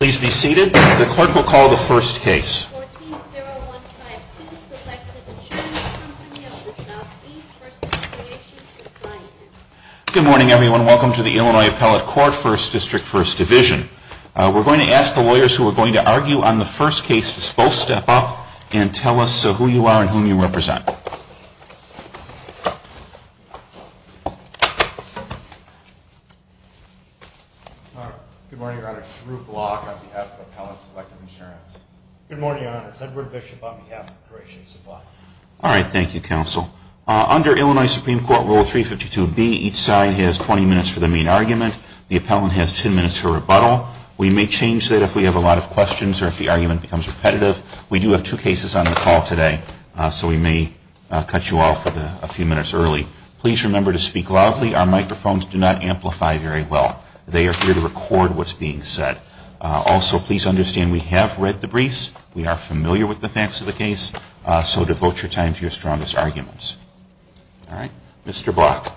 Good morning, everyone. Welcome to the Illinois Appellate Court, 1st District, 1st Division. We're going to ask the lawyers who are going to argue on the first case to both step up and tell us who you are and whom you represent. Good morning, Your Honors. Ruth Block on behalf of Appellate Selective Insurance. Good morning, Your Honors. Edward Bishop on behalf of Creation Supply. All right. Thank you, Counsel. Under Illinois Supreme Court Rule 352B, each side has 20 minutes for the main argument. The appellant has 10 minutes for rebuttal. We may change that if we have a lot of questions or if the argument becomes repetitive. We do have two cases on the call today, so we may cut you off a few minutes early. Please remember to speak loudly. Our microphones do not amplify very well. They are here to record what's being said. Also, please understand we have read the briefs. We are familiar with the facts of the case. So devote your time to your strongest arguments. All right. Mr. Block.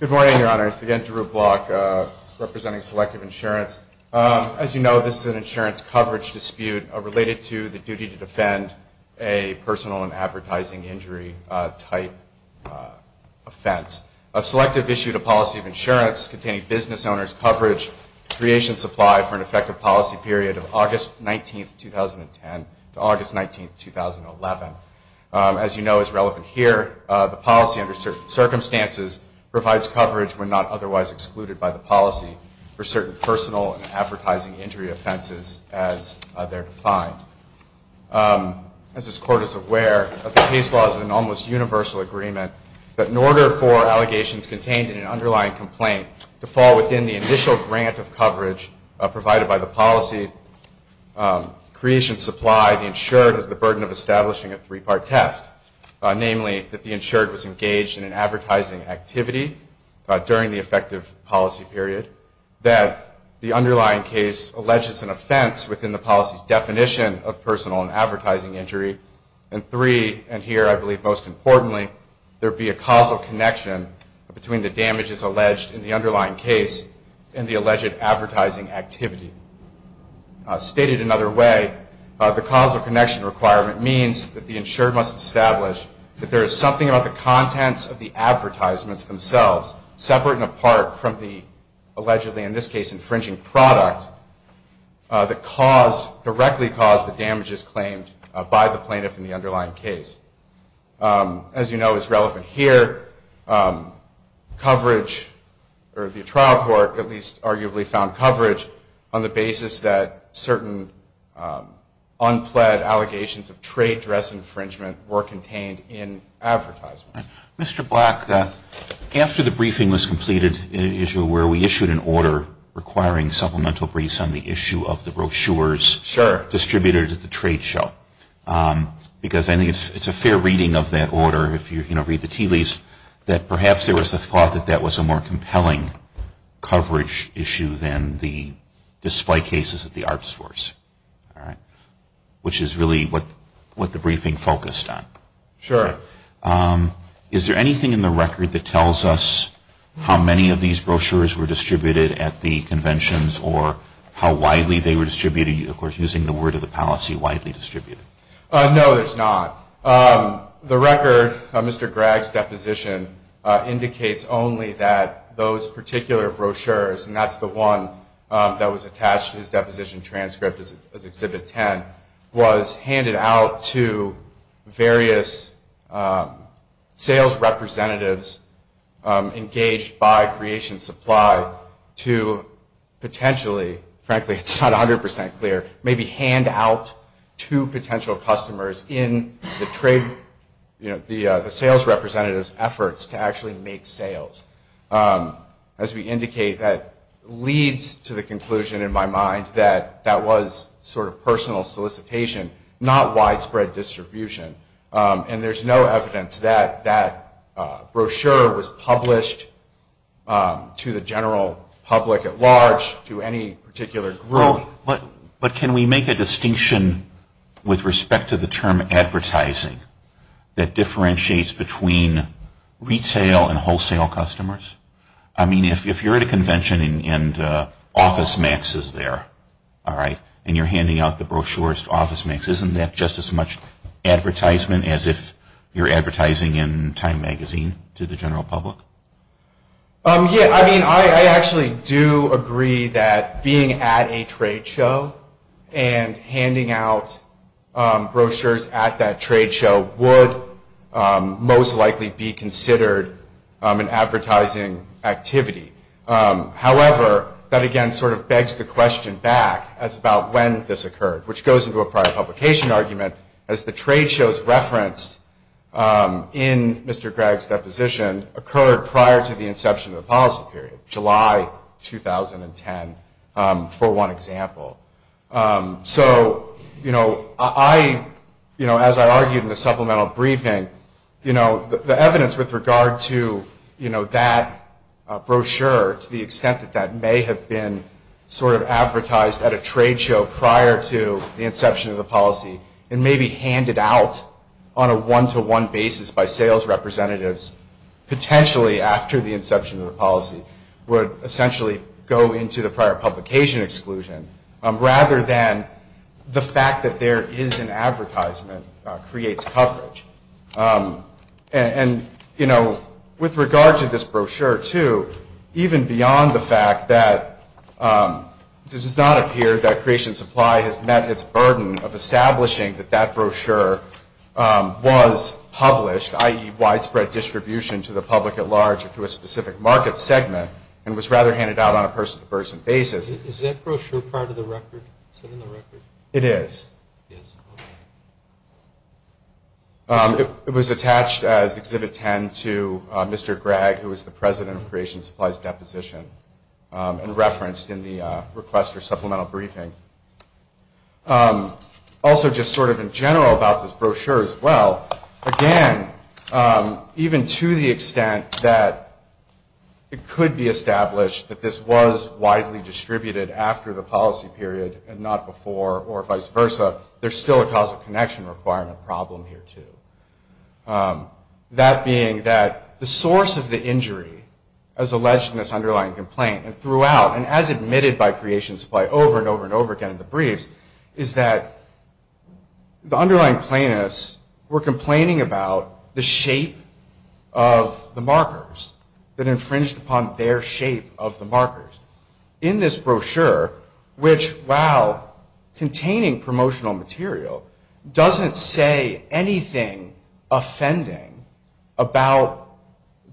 Good morning, Your Honors. Again, Drew Block representing Selective Insurance. As you know, this is an insurance coverage dispute related to the duty to defend a personal and advertising injury-type offense. A selective issue to policy of insurance containing business owners' coverage, Creation Supply, for an effective policy period of August 19, 2010 to August 19, 2011. As you know, as relevant here, the policy under certain circumstances provides coverage when not otherwise excluded by the policy for certain personal and advertising injury offenses as they're defined. As this Court is aware, the case law is an almost universal agreement that in order for allegations contained in an underlying complaint to fall within the initial grant of coverage provided by the policy, Creation Supply, the insured, has the burden of establishment. Namely, that the insured was engaged in an advertising activity during the effective policy period, that the underlying case alleges an offense within the policy's definition of personal and advertising injury, and three, and here I believe most importantly, there be a causal connection between the damages alleged in the underlying case and the alleged advertising activity. Stated another way, the causal connection requirement means that the insured must establish that there is something about the contents of the advertisements themselves, separate and apart from the allegedly, in this case, infringing product, that directly caused the damages claimed by the plaintiff in the underlying case. As you know, as relevant here, coverage, or the trial court at least arguably found coverage on the basis that certain unpled allegations of trade dress infringement were contained in advertisements. Mr. Black, after the briefing was completed in an issue where we issued an order requiring supplemental briefs on the issue of the brochures distributed at the trade show, because I think it's a fair reading of that order, if you read the tea leaves, that perhaps there was a thought that that was a more compelling coverage issue than the display cases at the art stores, which is really what the briefing focused on. Sure. Is there anything in the record that tells us how many of these brochures were distributed at the conventions or how widely they were distributed, of course using the word of the policy, widely distributed? No, there's not. The record of Mr. Gregg's deposition indicates only that those particular brochures, and that's the one that was attached to his deposition transcript as Exhibit 10, was handed out to various sales representatives engaged by Creation Supply to potentially, frankly it's not 100% clear, maybe hand out to potential customers in the sales representative's efforts to actually make sales. As we indicate, that leads to the conclusion in my mind that that was sort of personal solicitation, not widespread distribution. And there's no evidence that that brochure was published to the general public at large, to any particular group. But can we make a distinction with respect to the term advertising that differentiates between retail and wholesale customers? I mean, if you're at a convention and OfficeMax is there, all right, and you're handing out the brochures to OfficeMax, isn't that just as much advertisement as if you're advertising in Time Magazine to the general public? Yeah, I mean, I actually do agree that being at a trade show and handing out brochures at that trade show would most likely be considered an advertising activity. However, that again sort of begs the question back as about when this occurred, which goes into a prior publication argument as the trade shows referenced in Mr. Gregg's deposition occurred prior to the inception of the policy period, July 2010, for one example. So, you know, I, you know, as I argued in the supplemental briefing, you know, the evidence with regard to, you know, that brochure to the extent that that may have been sort of advertised at a trade show prior to the inception of the policy and maybe handed out on a one-to-one basis by sales representatives potentially after the inception of the policy would essentially go into the prior publication exclusion. Rather than the fact that there is an advertisement creates coverage. And, you know, with regard to this brochure, too, even beyond the fact that it does not appear that creation supply has met its burden of establishing that that brochure was published, i.e., widespread distribution to the public at large or to a specific market segment and was rather handed out on a person-to-person basis. Is that brochure part of the record? Is it in the record? It is. Yes. It was attached as Exhibit 10 to Mr. Gregg, who was the President of Creation Supplies Deposition, and referenced in the request for supplemental briefing. Also, just sort of in general about this brochure as well, again, even to the extent that it could be established that this was widely distributed after the policy period and not before or vice versa, there is still a causal connection requirement problem here, too. That being that the source of the injury as alleged in this underlying complaint and throughout and as admitted by Creation Supply over and over and over again in the briefs is that the underlying plaintiffs were complaining about the shape of the markers that infringed upon their shape of the markers. In this brochure, which, while containing promotional material, doesn't say anything offending about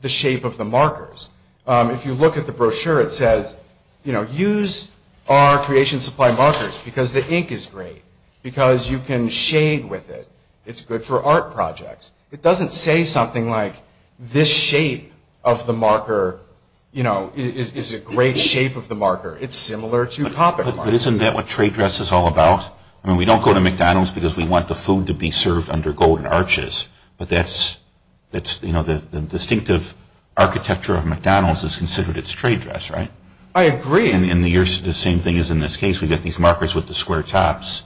the shape of the markers. If you look at the brochure, it says, use our Creation Supply markers because the ink is great, because you can shade with it. It's good for art projects. It doesn't say something like this shape of the marker, you know, is a great shape of the marker. It's similar to Coppock markers. But isn't that what trade dress is all about? I mean, we don't go to McDonald's because we want the food to be served under golden arches, but that's, you know, the distinctive architecture of McDonald's is considered its trade dress, right? I agree. And the same thing is in this case. We've got these markers with the square tops,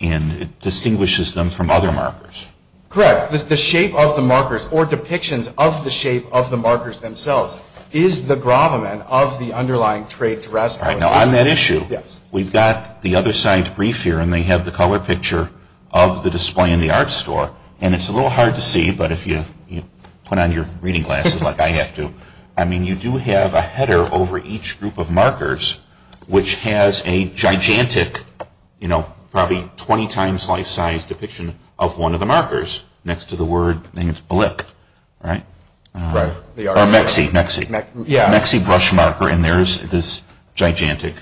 and it distinguishes them from other markers. Correct. The shape of the markers or depictions of the shape of the markers themselves is the gravamen of the underlying trade dress. All right. Now, on that issue, we've got the other side's brief here, and they have the color picture of the display in the art store. And it's a little hard to see, but if you put on your reading glasses like I have to, I mean, you do have a header over each group of markers, which has a gigantic, you know, probably 20 times life-size depiction of one of the markers next to the word, I think it's Blick, right? Right. Or Mexi, Mexi. Yeah. Mexi brush marker, and there's this gigantic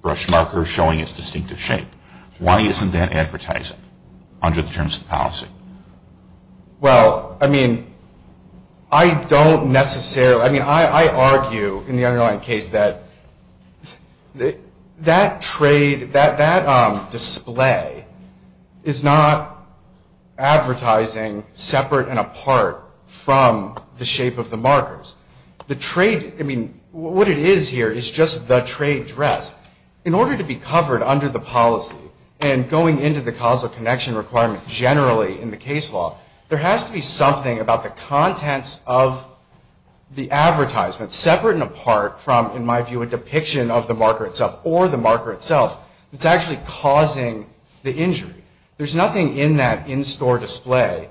brush marker showing its distinctive shape. Well, I mean, I don't necessarily, I mean, I argue in the underlying case that that trade, that display, is not advertising separate and apart from the shape of the markers. The trade, I mean, what it is here is just the trade dress. In order to be covered under the policy and going into the causal connection requirement generally in the case law, there has to be something about the contents of the advertisement separate and apart from, in my view, a depiction of the marker itself or the marker itself that's actually causing the injury. There's nothing in that in-store display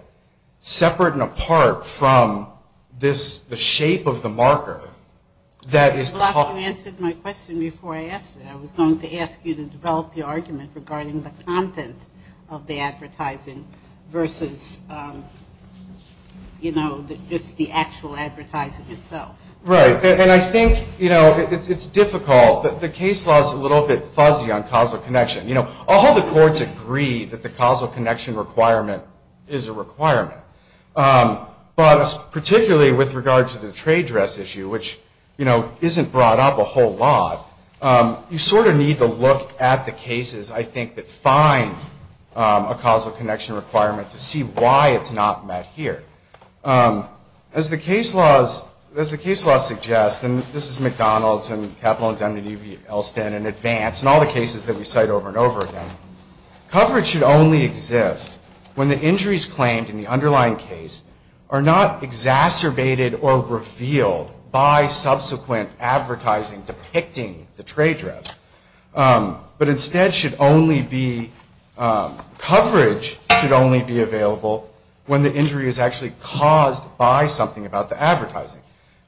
separate and apart from this, the shape of the marker that is causing. Black, you answered my question before I asked it. I was going to ask you to develop your argument regarding the content of the advertising versus, you know, just the actual advertising itself. Right. And I think, you know, it's difficult. The case law is a little bit fuzzy on causal connection. You know, all the courts agree that the causal connection requirement is a requirement. But particularly with regard to the trade dress issue, which, you know, isn't brought up a whole lot, you sort of need to look at the cases, I think, that find a causal connection requirement to see why it's not met here. As the case law suggests, and this is McDonald's and Capital Indemnity of Elston and Advance and all the cases that we cite over and over again, coverage should only exist when the injuries claimed in the underlying case are not exacerbated or revealed by subsequent advertising depicting the trade dress. But instead should only be coverage should only be available when the injury is actually caused by something about the advertising.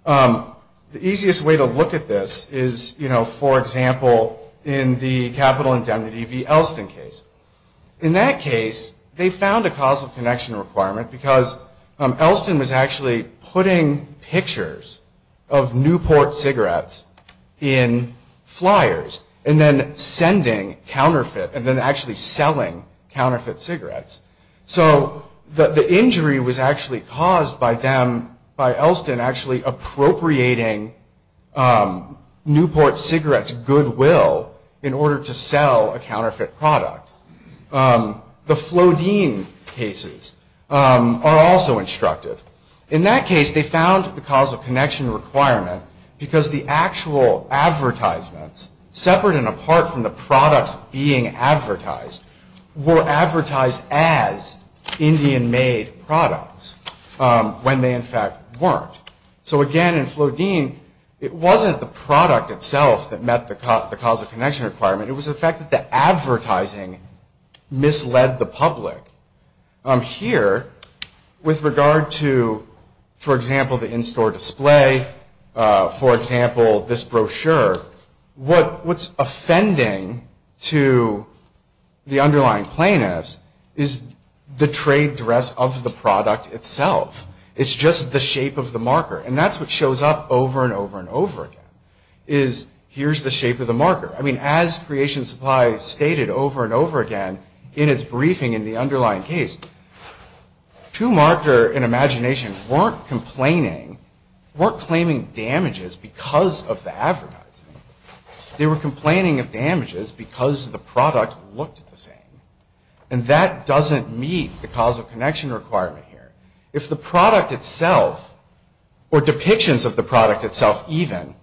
The easiest way to look at this is, you know, for example, in the Capital Indemnity v. Elston case. In that case, they found a causal connection requirement because Elston was actually putting pictures of Newport cigarettes in flyers and then sending counterfeit and then actually selling counterfeit cigarettes. So the injury was actually caused by them, by Elston, actually appropriating Newport cigarettes' goodwill in order to sell a counterfeit product. The Flodine cases are also instructive. In that case, they found the causal connection requirement because the actual advertisements, separate and apart from the products being advertised, were advertised as Indian-made products when they, in fact, weren't. So again, in Flodine, it wasn't the product itself that met the causal connection requirement. It was the fact that the advertising misled the public. Here, with regard to, for example, the in-store display, for example, this brochure, what's offending to the underlying plaintiffs is the trade dress of the product itself. It's just the shape of the marker. And that's what shows up over and over and over again, is here's the shape of the marker. I mean, as Creation Supply stated over and over again in its briefing in the underlying case, two marker and imagination weren't complaining, weren't claiming damages because of the advertising. They were complaining of damages because the product looked the same. And that doesn't meet the causal connection requirement here. If the product itself, or depictions of the product itself even,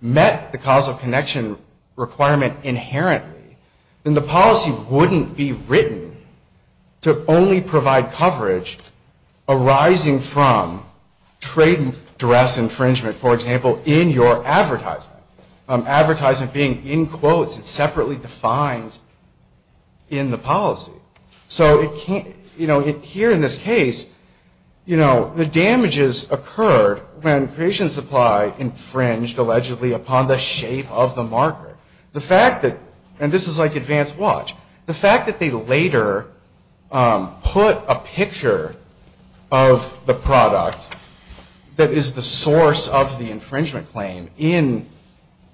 met the causal connection requirement inherently, then the policy wouldn't be written to only provide coverage arising from trade dress infringement, for example, in your advertisement. Advertisement being in quotes, it's separately defined in the policy. So it can't, you know, here in this case, you know, the damages occurred when Creation Supply infringed, allegedly, upon the shape of the marker. The fact that, and this is like advanced watch, the fact that they later put a picture of the product that is the source of the infringement claim in,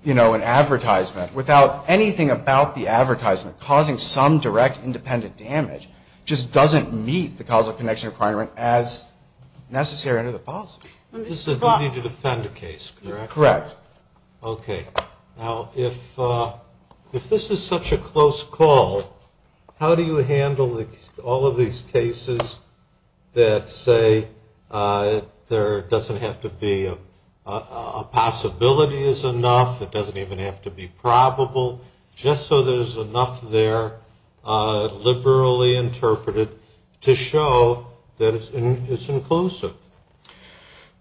you know, an advertisement without anything about the advertisement causing some direct independent damage just doesn't meet the causal connection requirement as necessary under the policy. This is a duty to defend case, correct? Correct. Okay. Now, if this is such a close call, how do you handle all of these cases that say there doesn't have to be, a possibility is enough, it doesn't even have to be probable, just so there's enough there liberally interpreted to show that it's inclusive?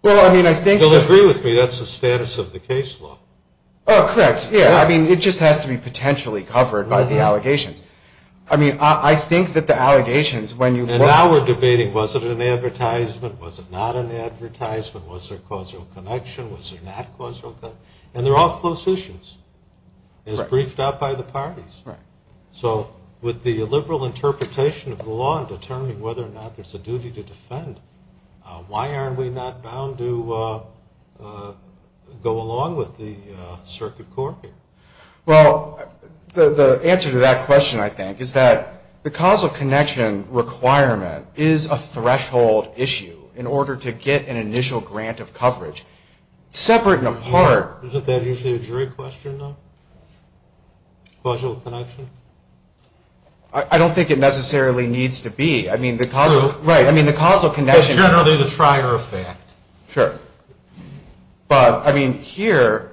Well, I mean, I think that... You'll agree with me that's the status of the case law. Oh, correct. Yeah, I mean, it just has to be potentially covered by the allegations. I mean, I think that the allegations, when you... And now we're debating was it an advertisement, was it not an advertisement, was there a causal connection, was there not a causal connection? And they're all close issues. Right. As briefed out by the parties. Right. So with the liberal interpretation of the law in determining whether or not there's a duty to defend, why aren't we not bound to go along with the circuit court here? Well, the answer to that question, I think, is that the causal connection requirement is a threshold issue in order to get an initial grant of coverage. Separate and apart... Isn't that usually a jury question, though? Causal connection? I don't think it necessarily needs to be. True. Right. I mean, the causal connection... That's generally the trier effect. Sure. But, I mean, here,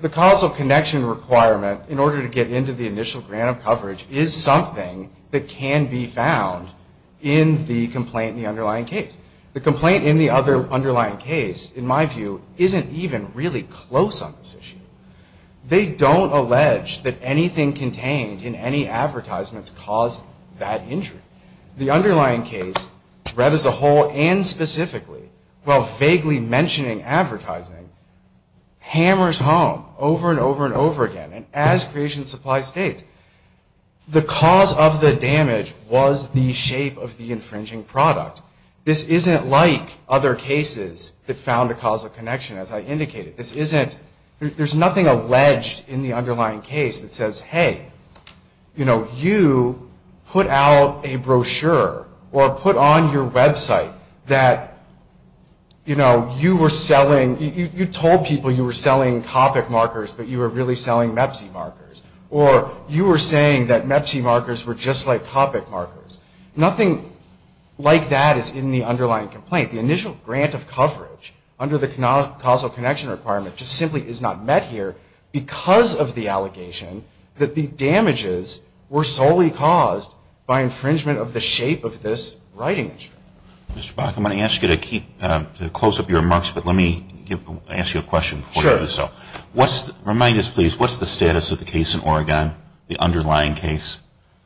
the causal connection requirement, in order to get into the initial grant of coverage, is something that can be found in the complaint in the underlying case. The complaint in the underlying case, in my view, isn't even really close on this issue. They don't allege that anything contained in any advertisements caused that injury. The underlying case, read as a whole and specifically, while vaguely mentioning advertising, hammers home over and over and over again. And as Creation Supply states, the cause of the damage was the shape of the infringing product. This isn't like other cases that found a causal connection, as I indicated. This isn't... There's nothing alleged in the underlying case that says, hey, you know, you put out a brochure or put on your website that, you know, you were selling... You told people you were selling Copic markers, but you were really selling Mepsi markers. Or you were saying that Mepsi markers were just like Copic markers. Nothing like that is in the underlying complaint. The initial grant of coverage, under the causal connection requirement, just simply is not met here because of the allegation that the damages were solely caused by infringement of the shape of this writing instrument. Mr. Baca, I'm going to ask you to close up your remarks, but let me ask you a question before you do so. Sure. Remind us, please, what's the status of the case in Oregon, the underlying case?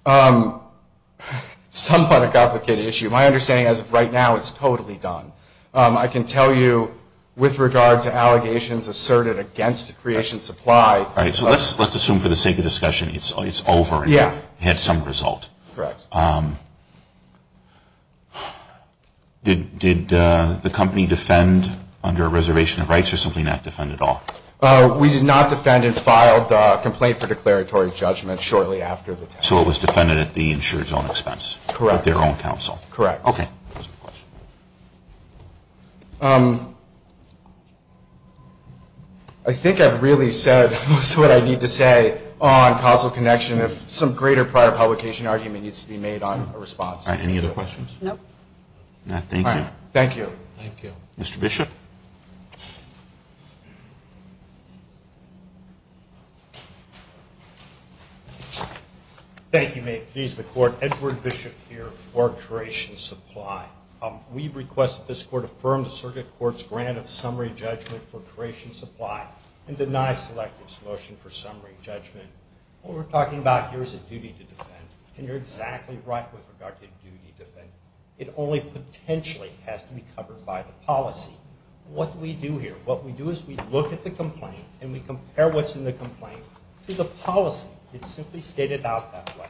Somewhat a complicated issue. My understanding, as of right now, it's totally done. I can tell you, with regard to allegations asserted against Creation Supply... All right. So let's assume, for the sake of discussion, it's over and you had some result. Correct. Did the company defend under a reservation of rights or simply not defend at all? We did not defend and filed a complaint for declaratory judgment shortly after the test. So it was defended at the insurer's own expense? Correct. With their own counsel? Correct. Okay. I think I've really said most of what I need to say on causal connection. If some greater prior publication argument needs to be made on a response... All right. Any other questions? No. All right. Thank you. Mr. Bishop. Thank you. May it please the Court. Edward Bishop here for Creation Supply. We request that this Court affirm the Circuit Court's grant of summary judgment for Creation Supply and deny Selective's motion for summary judgment. What we're talking about here is a duty to defend. And you're exactly right with regard to duty to defend. It only potentially has to be covered by the policy. What do we do here? What we do is we look at the complaint and we compare what's in the complaint to the policy. It's simply stated out that way.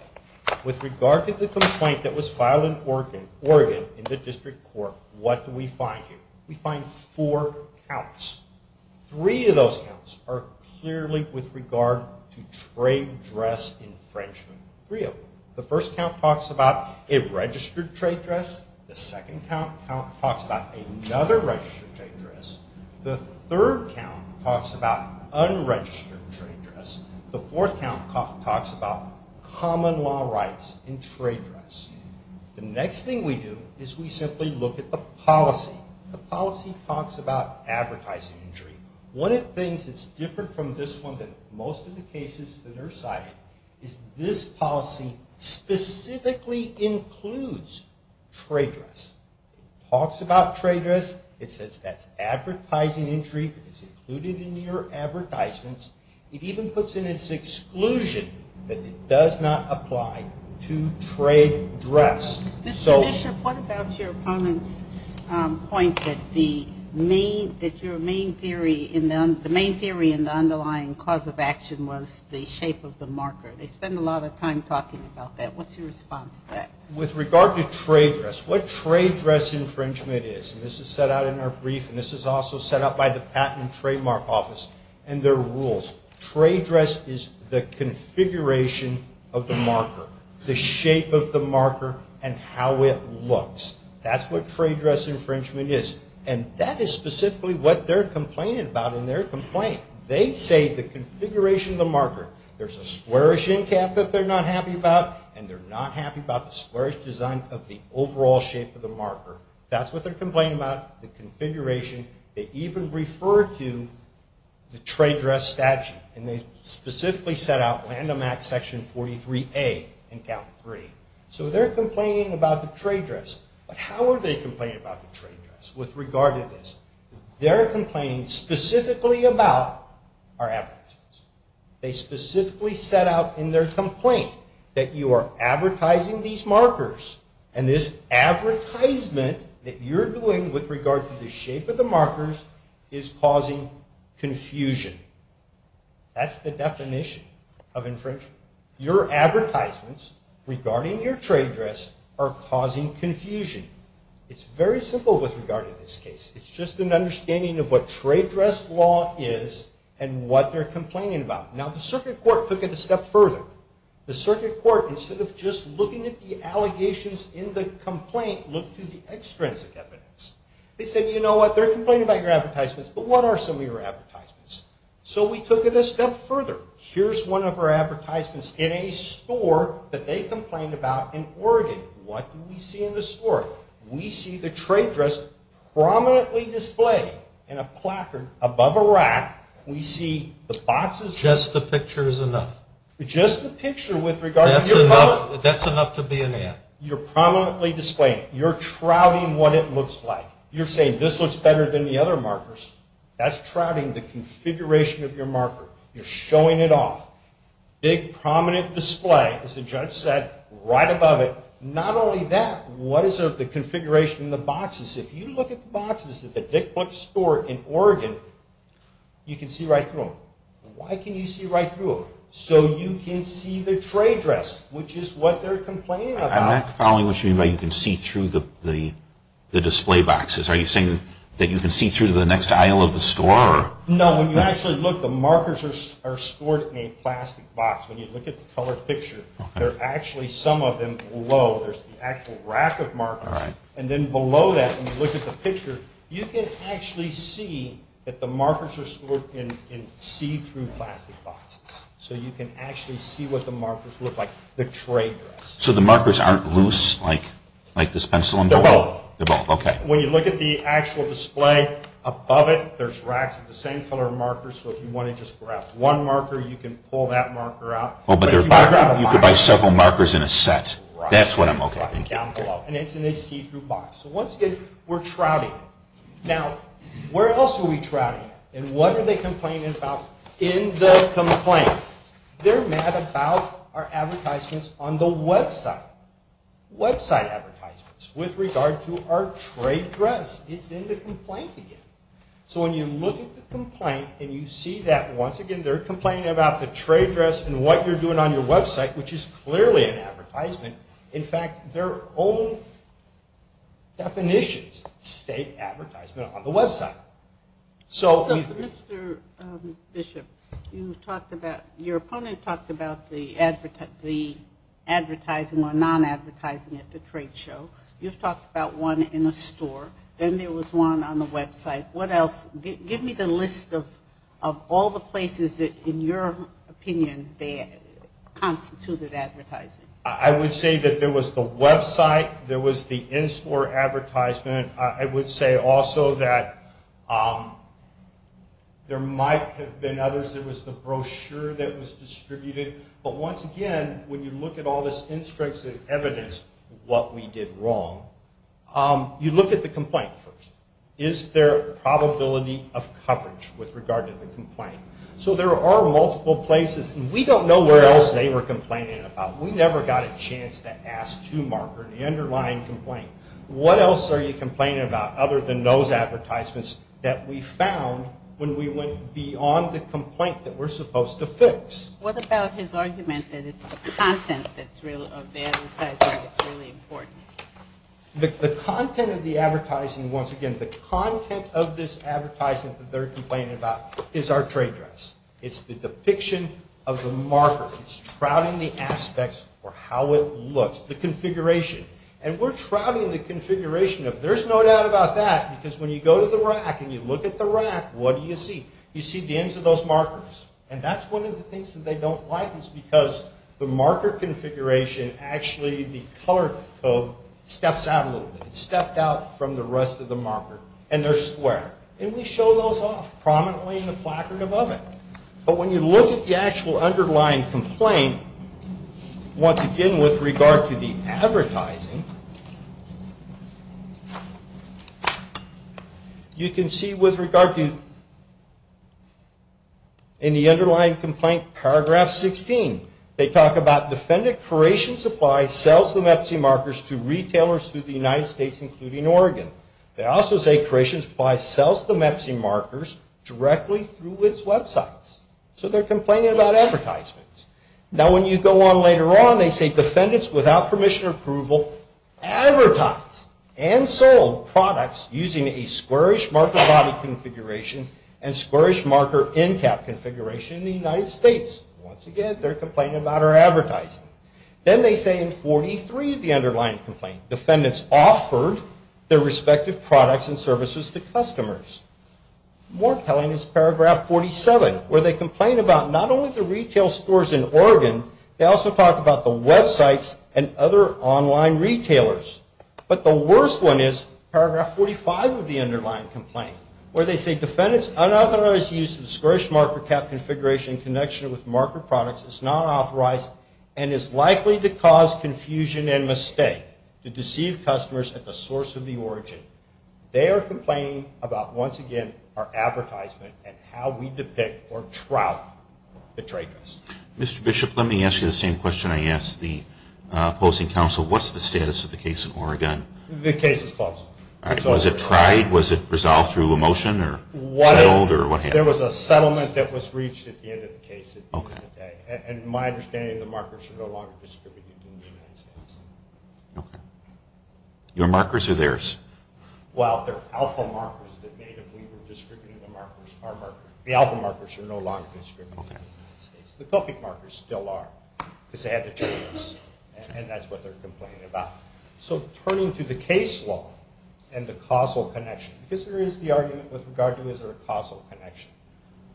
With regard to the complaint that was filed in Oregon in the District Court, what do we find here? We find four counts. Three of those counts are clearly with regard to trade dress infringement. Three of them. The first count talks about a registered trade dress. The second count talks about another registered trade dress. The third count talks about unregistered trade dress. The fourth count talks about common law rights in trade dress. The next thing we do is we simply look at the policy. The policy talks about advertising injury. One of the things that's different from this one than most of the cases that are cited is this policy specifically includes trade dress. It talks about trade dress. It says that's advertising injury. It's included in your advertisements. It even puts in its exclusion that it does not apply to trade dress. Mr. Bishop, what about your opponent's point that your main theory in the underlying cause of action was the shape of the marker? They spend a lot of time talking about that. What's your response to that? With regard to trade dress, what trade dress infringement is, and this is set out in our brief and this is also set out by the Patent and Trademark Office and their rules, trade dress is the configuration of the marker, the shape of the marker, and how it looks. That's what trade dress infringement is, and that is specifically what they're complaining about in their complaint. They say the configuration of the marker. There's a squarish end cap that they're not happy about, and they're not happy about the squarish design of the overall shape of the marker. That's what they're complaining about, the configuration. They even refer to the trade dress statute, and they specifically set out Landomax Section 43A in Count 3. So they're complaining about the trade dress, but how are they complaining about the trade dress with regard to this? They're complaining specifically about our advertisements. They specifically set out in their complaint that you are advertising these markers, and this advertisement that you're doing with regard to the shape of the markers is causing confusion. That's the definition of infringement. Your advertisements regarding your trade dress are causing confusion. It's very simple with regard to this case. It's just an understanding of what trade dress law is and what they're complaining about. Now, the circuit court took it a step further. The circuit court, instead of just looking at the allegations in the complaint, looked to the extrinsic evidence. They said, you know what, they're complaining about your advertisements, but what are some of your advertisements? So we took it a step further. Here's one of our advertisements in a store that they complained about in Oregon. What do we see in the store? We see the trade dress prominently displayed in a placard above a rack. We see the boxes. Just the picture is enough. Just the picture with regard to your product. That's enough to be an ad. You're prominently displaying it. You're trouting what it looks like. You're saying this looks better than the other markers. That's trouting the configuration of your marker. You're showing it off. Big, prominent display, as the judge said, right above it. Not only that, what is the configuration of the boxes? If you look at the boxes at the Dick Flick store in Oregon, you can see right through them. Why can you see right through them? So you can see the trade dress, which is what they're complaining about. I'm not following what you mean by you can see through the display boxes. Are you saying that you can see through to the next aisle of the store? No, when you actually look, the markers are stored in a plastic box. When you look at the colored picture, there are actually some of them below. There's the actual rack of markers. And then below that, when you look at the picture, you can actually see that the markers are stored in see-through plastic boxes. So you can actually see what the markers look like, the trade dress. So the markers aren't loose like this pencil? They're both. They're both, okay. When you look at the actual display, above it, there's racks of the same color markers. So if you want to just grab one marker, you can pull that marker out. Oh, but you could buy several markers in a set. That's what I'm looking for. And it's in a see-through box. So once again, we're trouting. Now, where else are we trouting? And what are they complaining about in the complaint? They're mad about our advertisements on the website, website advertisements with regard to our trade dress. It's in the complaint again. So when you look at the complaint and you see that, once again, they're complaining about the trade dress and what you're doing on your website, which is clearly an advertisement. In fact, their own definitions state advertisement on the website. So, Mr. Bishop, your opponent talked about the advertising or non-advertising at the trade show. You've talked about one in a store. Then there was one on the website. What else? Give me the list of all the places that, in your opinion, they constituted advertising. I would say that there was the website, there was the in-store advertisement. I would say also that there might have been others. There was the brochure that was distributed. But once again, when you look at all this in-stripes of evidence what we did wrong, you look at the complaint first. Is there a probability of coverage with regard to the complaint? So there are multiple places. We don't know what else they were complaining about. We never got a chance to ask to mark or to underline complaint. What else are you complaining about other than those advertisements that we found when we went beyond the complaint that we're supposed to fix? What about his argument that it's the content of the advertising that's really important? The content of the advertising, once again, the content of this advertisement that they're complaining about is our trade dress. It's the depiction of the marker. It's trouting the aspects or how it looks, the configuration. And we're trouting the configuration of there's no doubt about that because when you go to the rack and you look at the rack, what do you see? You see the ends of those markers. And that's one of the things that they don't like is because the marker configuration, actually the color code steps out a little bit. It stepped out from the rest of the marker. And they're square. And we show those off prominently in the placard above it. But when you look at the actual underlying complaint, once again with regard to the advertising, you can see with regard to in the underlying complaint, paragraph 16, they talk about defendant Croatian Supply sells the Mepsi markers to retailers through the United States including Oregon. They also say Croatian Supply sells the Mepsi markers directly through its websites. So they're complaining about advertisements. Now when you go on later on, they say defendants without permission or approval advertised and sold products using a squarish marker body configuration and squarish marker end cap configuration in the United States. Once again, they're complaining about our advertising. Then they say in 43 of the underlying complaint, defendants offered their respective products and services to customers. More telling is paragraph 47, where they complain about not only the retail stores in Oregon, they also talk about the websites and other online retailers. But the worst one is paragraph 45 of the underlying complaint, where they say defendants unauthorized use of squarish marker cap configuration in connection with marker products is not authorized and is likely to cause confusion and mistake to deceive customers at the source of the origin. They are complaining about, once again, our advertisement and how we depict or trout the trade trust. Mr. Bishop, let me ask you the same question I asked the opposing counsel. What's the status of the case in Oregon? The case is closed. Was it tried? Was it resolved through a motion or settled or what happened? There was a settlement that was reached at the end of the case at the end of the day. And my understanding is the markers are no longer distributed in the United States. Okay. Your markers are theirs. Well, they're alpha markers that made it. We were distributing the markers, our markers. The alpha markers are no longer distributed in the United States. The copic markers still are because they had to change this. And that's what they're complaining about. So turning to the case law and the causal connection, because there is the argument with regard to is there a causal connection,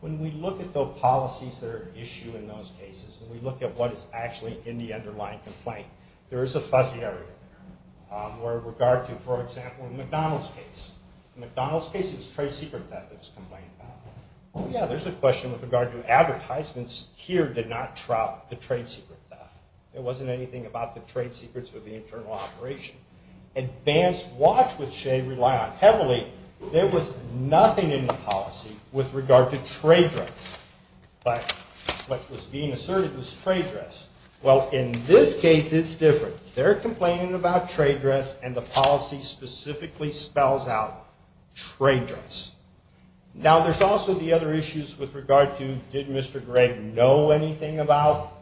when we look at the policies that are at issue in those cases, when we look at what is actually in the underlying complaint, there is a fuzzy area there. With regard to, for example, the McDonald's case. In the McDonald's case, it was trade secret theft that was complained about. Yeah, there's a question with regard to advertisements. Here did not trout the trade secret theft. It wasn't anything about the trade secrets or the internal operation. Advanced watch, which they rely on heavily, there was nothing in the policy with regard to trade dress. But what was being asserted was trade dress. Well, in this case, it's different. They're complaining about trade dress, and the policy specifically spells out trade dress. Now, there's also the other issues with regard to did Mr. Gregg know anything about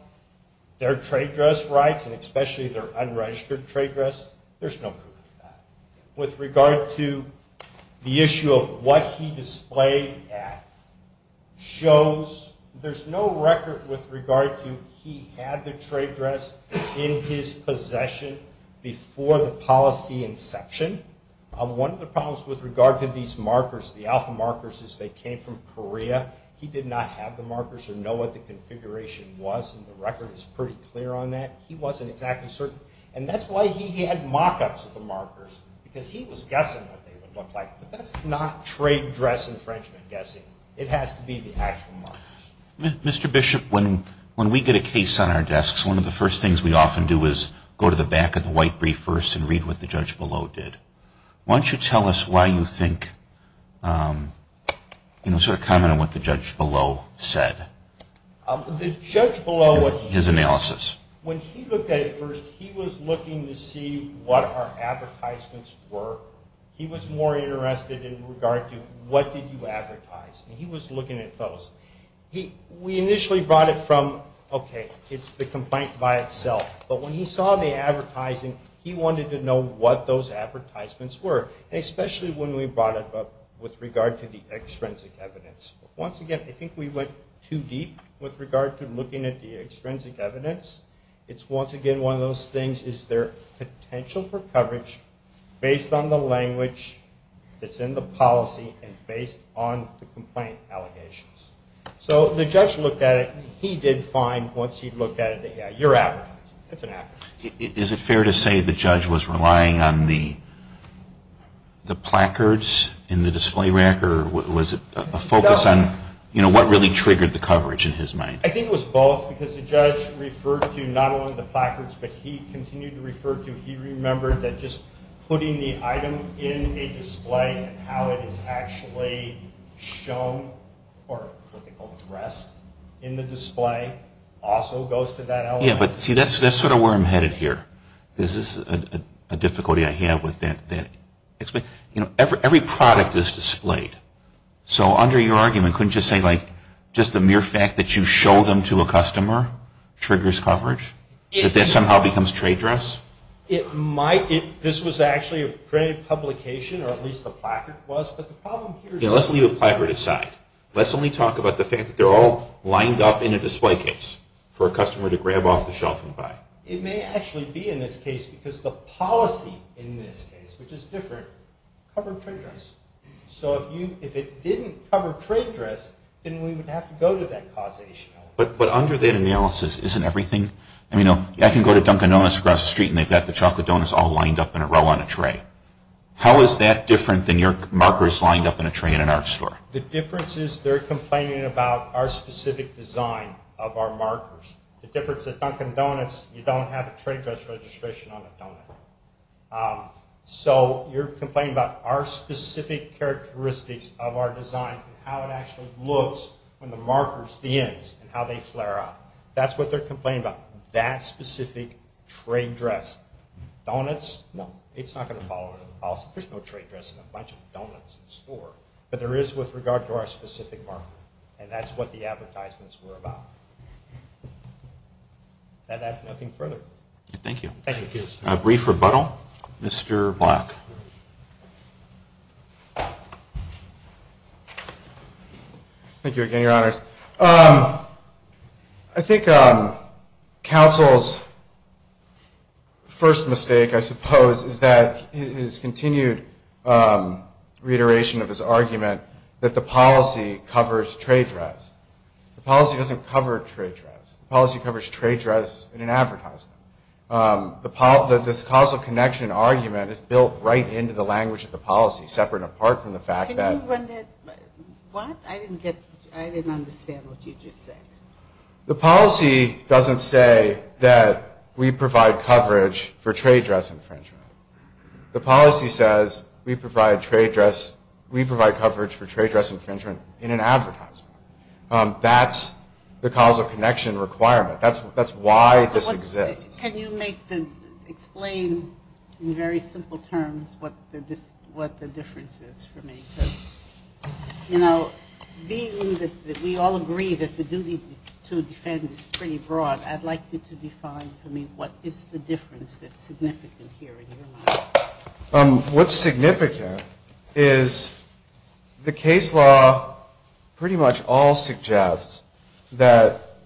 their trade dress rights, and especially their unregistered trade dress. There's no proof of that. With regard to the issue of what he displayed at shows there's no record with regard to he had the trade dress in his possession before the policy inception. One of the problems with regard to these markers, the alpha markers, is they came from Korea. He did not have the markers or know what the configuration was, and the record is pretty clear on that. He wasn't exactly certain. And that's why he had mock-ups of the markers, because he was guessing what they would look like. But that's not trade dress infringement guessing. It has to be the actual markers. Mr. Bishop, when we get a case on our desks, one of the first things we often do is go to the back of the white brief first and read what the judge below did. Why don't you tell us why you think, sort of comment on what the judge below said. The judge below, when he looked at it first, he was looking to see what our advertisements were. He was more interested in regard to what did you advertise. He was looking at those. We initially brought it from, okay, it's the complaint by itself. But when he saw the advertising, he wanted to know what those advertisements were, especially when we brought it up with regard to the extrinsic evidence. Once again, I think we went too deep with regard to looking at the extrinsic evidence. It's, once again, one of those things, is there potential for coverage based on the language that's in the policy and based on the complaint allegations. So the judge looked at it. He did find once he looked at it that, yeah, you're advertising. It's an advertisement. Is it fair to say the judge was relying on the placards in the display rack or was it a focus on what really triggered the coverage in his mind? I think it was both because the judge referred to not only the placards, but he continued to refer to, he remembered that just putting the item in a display and how it is actually shown or what they call dressed in the display also goes to that element. Yeah, but see, that's sort of where I'm headed here. This is a difficulty I have with that. You know, every product is displayed. So under your argument, couldn't you say, like, just the mere fact that you show them to a customer triggers coverage? That that somehow becomes trade dress? It might. This was actually a printed publication, or at least the placard was. But the problem here is... Let's leave the placard aside. Let's only talk about the fact that they're all lined up in a display case for a customer to grab off the shelf and buy. It may actually be in this case because the policy in this case, which is different, covered trade dress. So if it didn't cover trade dress, then we would have to go to that causation element. But under that analysis, isn't everything... I mean, I can go to Dunkin' Donuts across the street and they've got the chocolate donuts all lined up in a row on a tray. How is that different than your markers lined up in a tray in an art store? The difference is they're complaining about our specific design of our markers. The difference with Dunkin' Donuts, you don't have a trade dress registration on the donut. So you're complaining about our specific characteristics of our design and how it actually looks when the markers, the ends, and how they flare out. That's what they're complaining about. That specific trade dress. Donuts, no. It's not going to fall under the policy. There's no trade dress in a bunch of donuts in the store. But there is with regard to our specific marker. And that's what the advertisements were about. And I have nothing further. Thank you. Thank you. A brief rebuttal. Mr. Black. Thank you again, Your Honors. I think counsel's first mistake, I suppose, is that his continued reiteration of his argument that the policy covers trade dress. The policy doesn't cover trade dress. The policy covers trade dress in an advertisement. This causal connection argument is built right into the language of the policy, separate and apart from the fact that. What? I didn't understand what you just said. The policy doesn't say that we provide coverage for trade dress infringement. The policy says we provide coverage for trade dress infringement in an advertisement. That's the causal connection requirement. That's why this exists. Can you explain in very simple terms what the difference is for me? You know, being that we all agree that the duty to defend is pretty broad, I'd like you to define for me what is the difference that's significant here in your mind. What's significant is the case law pretty much all suggests that,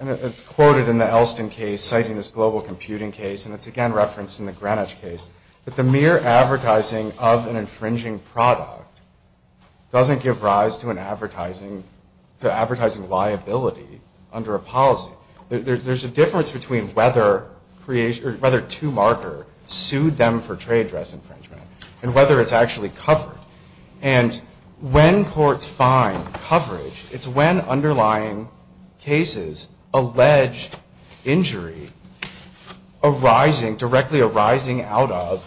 and it's quoted in the Elston case citing this global computing case, and it's again referenced in the Greenwich case, that the mere advertising of an infringing product doesn't give rise to advertising liability under a policy. There's a difference between whether two marker sued them for trade dress infringement and whether it's actually covered. And when courts find coverage, it's when underlying cases allege injury arising, directly arising out of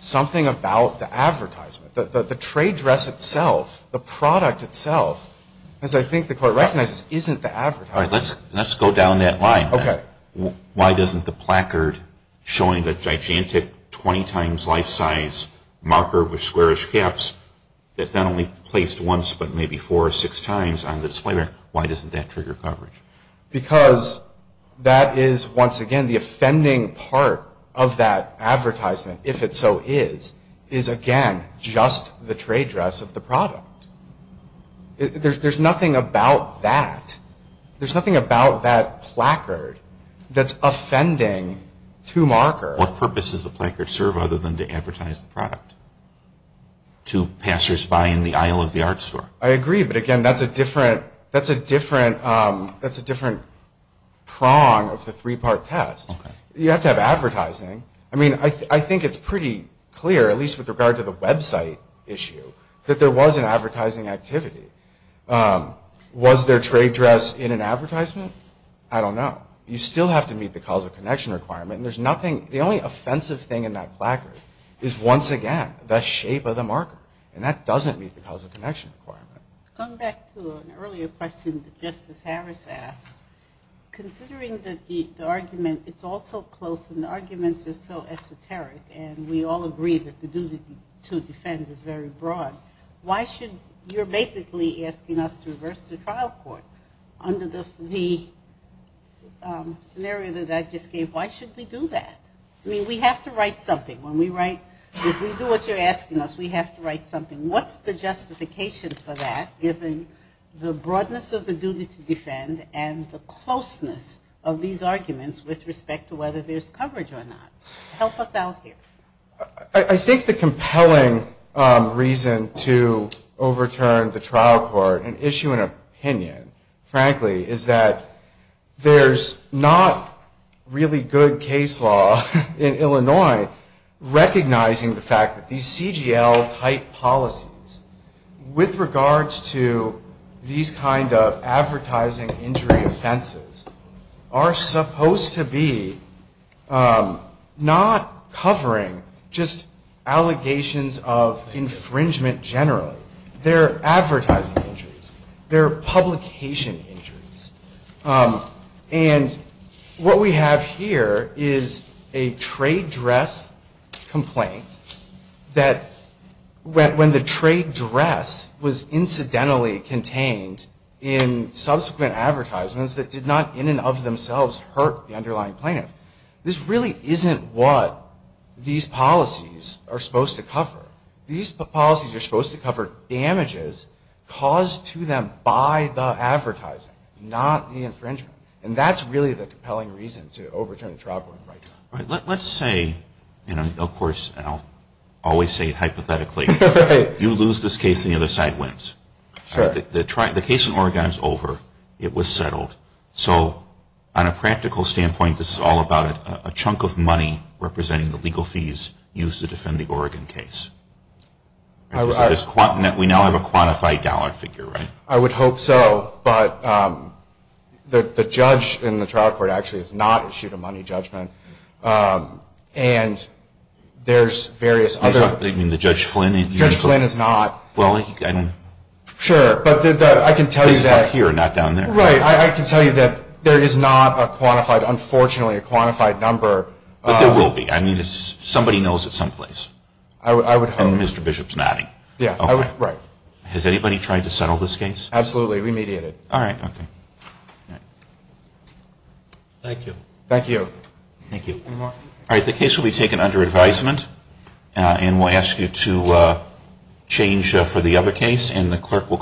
something about the advertisement. The trade dress itself, the product itself, as I think the court recognizes, isn't the advertisement. All right. Let's go down that line. Okay. Why doesn't the placard showing the gigantic 20 times life size marker with squarish caps, that's not only placed once but maybe four or six times on the display, why doesn't that trigger coverage? Because that is, once again, the offending part of that advertisement, if it so is, is again just the trade dress of the product. There's nothing about that. There's nothing about that placard that's offending two marker. What purpose does the placard serve other than to advertise the product to passers-by in the aisle of the art store? I agree, but again, that's a different prong of the three-part test. You have to have advertising. I mean, I think it's pretty clear, at least with regard to the website issue, that there was an advertising activity. Was there trade dress in an advertisement? I don't know. You still have to meet the cause of connection requirement, and there's nothing, the only offensive thing in that placard is, once again, the shape of the marker, and that doesn't meet the cause of connection requirement. Going back to an earlier question that Justice Harris asked, considering that the argument, it's all so close and the arguments are so esoteric and we all agree that the duty to defend is very broad, why should, you're basically asking us to reverse the trial court. Under the scenario that I just gave, why should we do that? I mean, we have to write something. When we write, if we do what you're asking us, we have to write something. What's the justification for that, given the broadness of the duty to defend and the closeness of these arguments with respect to whether there's coverage or not? Help us out here. I think the compelling reason to overturn the trial court and issue an opinion, frankly, is that there's not really good case law in Illinois recognizing the fact that these CGL-type policies, with regards to these kind of advertising injury offenses, are supposed to be not covering just allegations of infringement generally. They're advertising injuries. They're publication injuries. And what we have here is a trade dress complaint that, when the trade dress was incidentally contained in subsequent advertisements that did not in and of themselves hurt the underlying plaintiff. This really isn't what these policies are supposed to cover. These policies are supposed to cover damages caused to them by the advertising, not the infringement. And that's really the compelling reason to overturn the trial court. Let's say, and of course I'll always say it hypothetically, you lose this case and the other side wins. The case in Oregon is over. It was settled. So on a practical standpoint, this is all about a chunk of money representing the legal fees used to defend the Oregon case. We now have a quantified dollar figure, right? I would hope so. But the judge in the trial court actually has not issued a money judgment. And there's various other... You mean the Judge Flynn? Judge Flynn has not. Well, I don't know. Sure. But I can tell you that... He's up here, not down there. Right. I can tell you that there is not a quantified, unfortunately, a quantified number. But there will be. I mean, somebody knows it someplace. I would hope. And Mr. Bishop's nodding. Yeah. Right. Has anybody tried to settle this case? Absolutely. We mediate it. All right. Okay. Thank you. Thank you. Thank you. Any more? All right. The case will be taken under advisement. And we'll ask you to change for the other case. And the clerk will call the roll.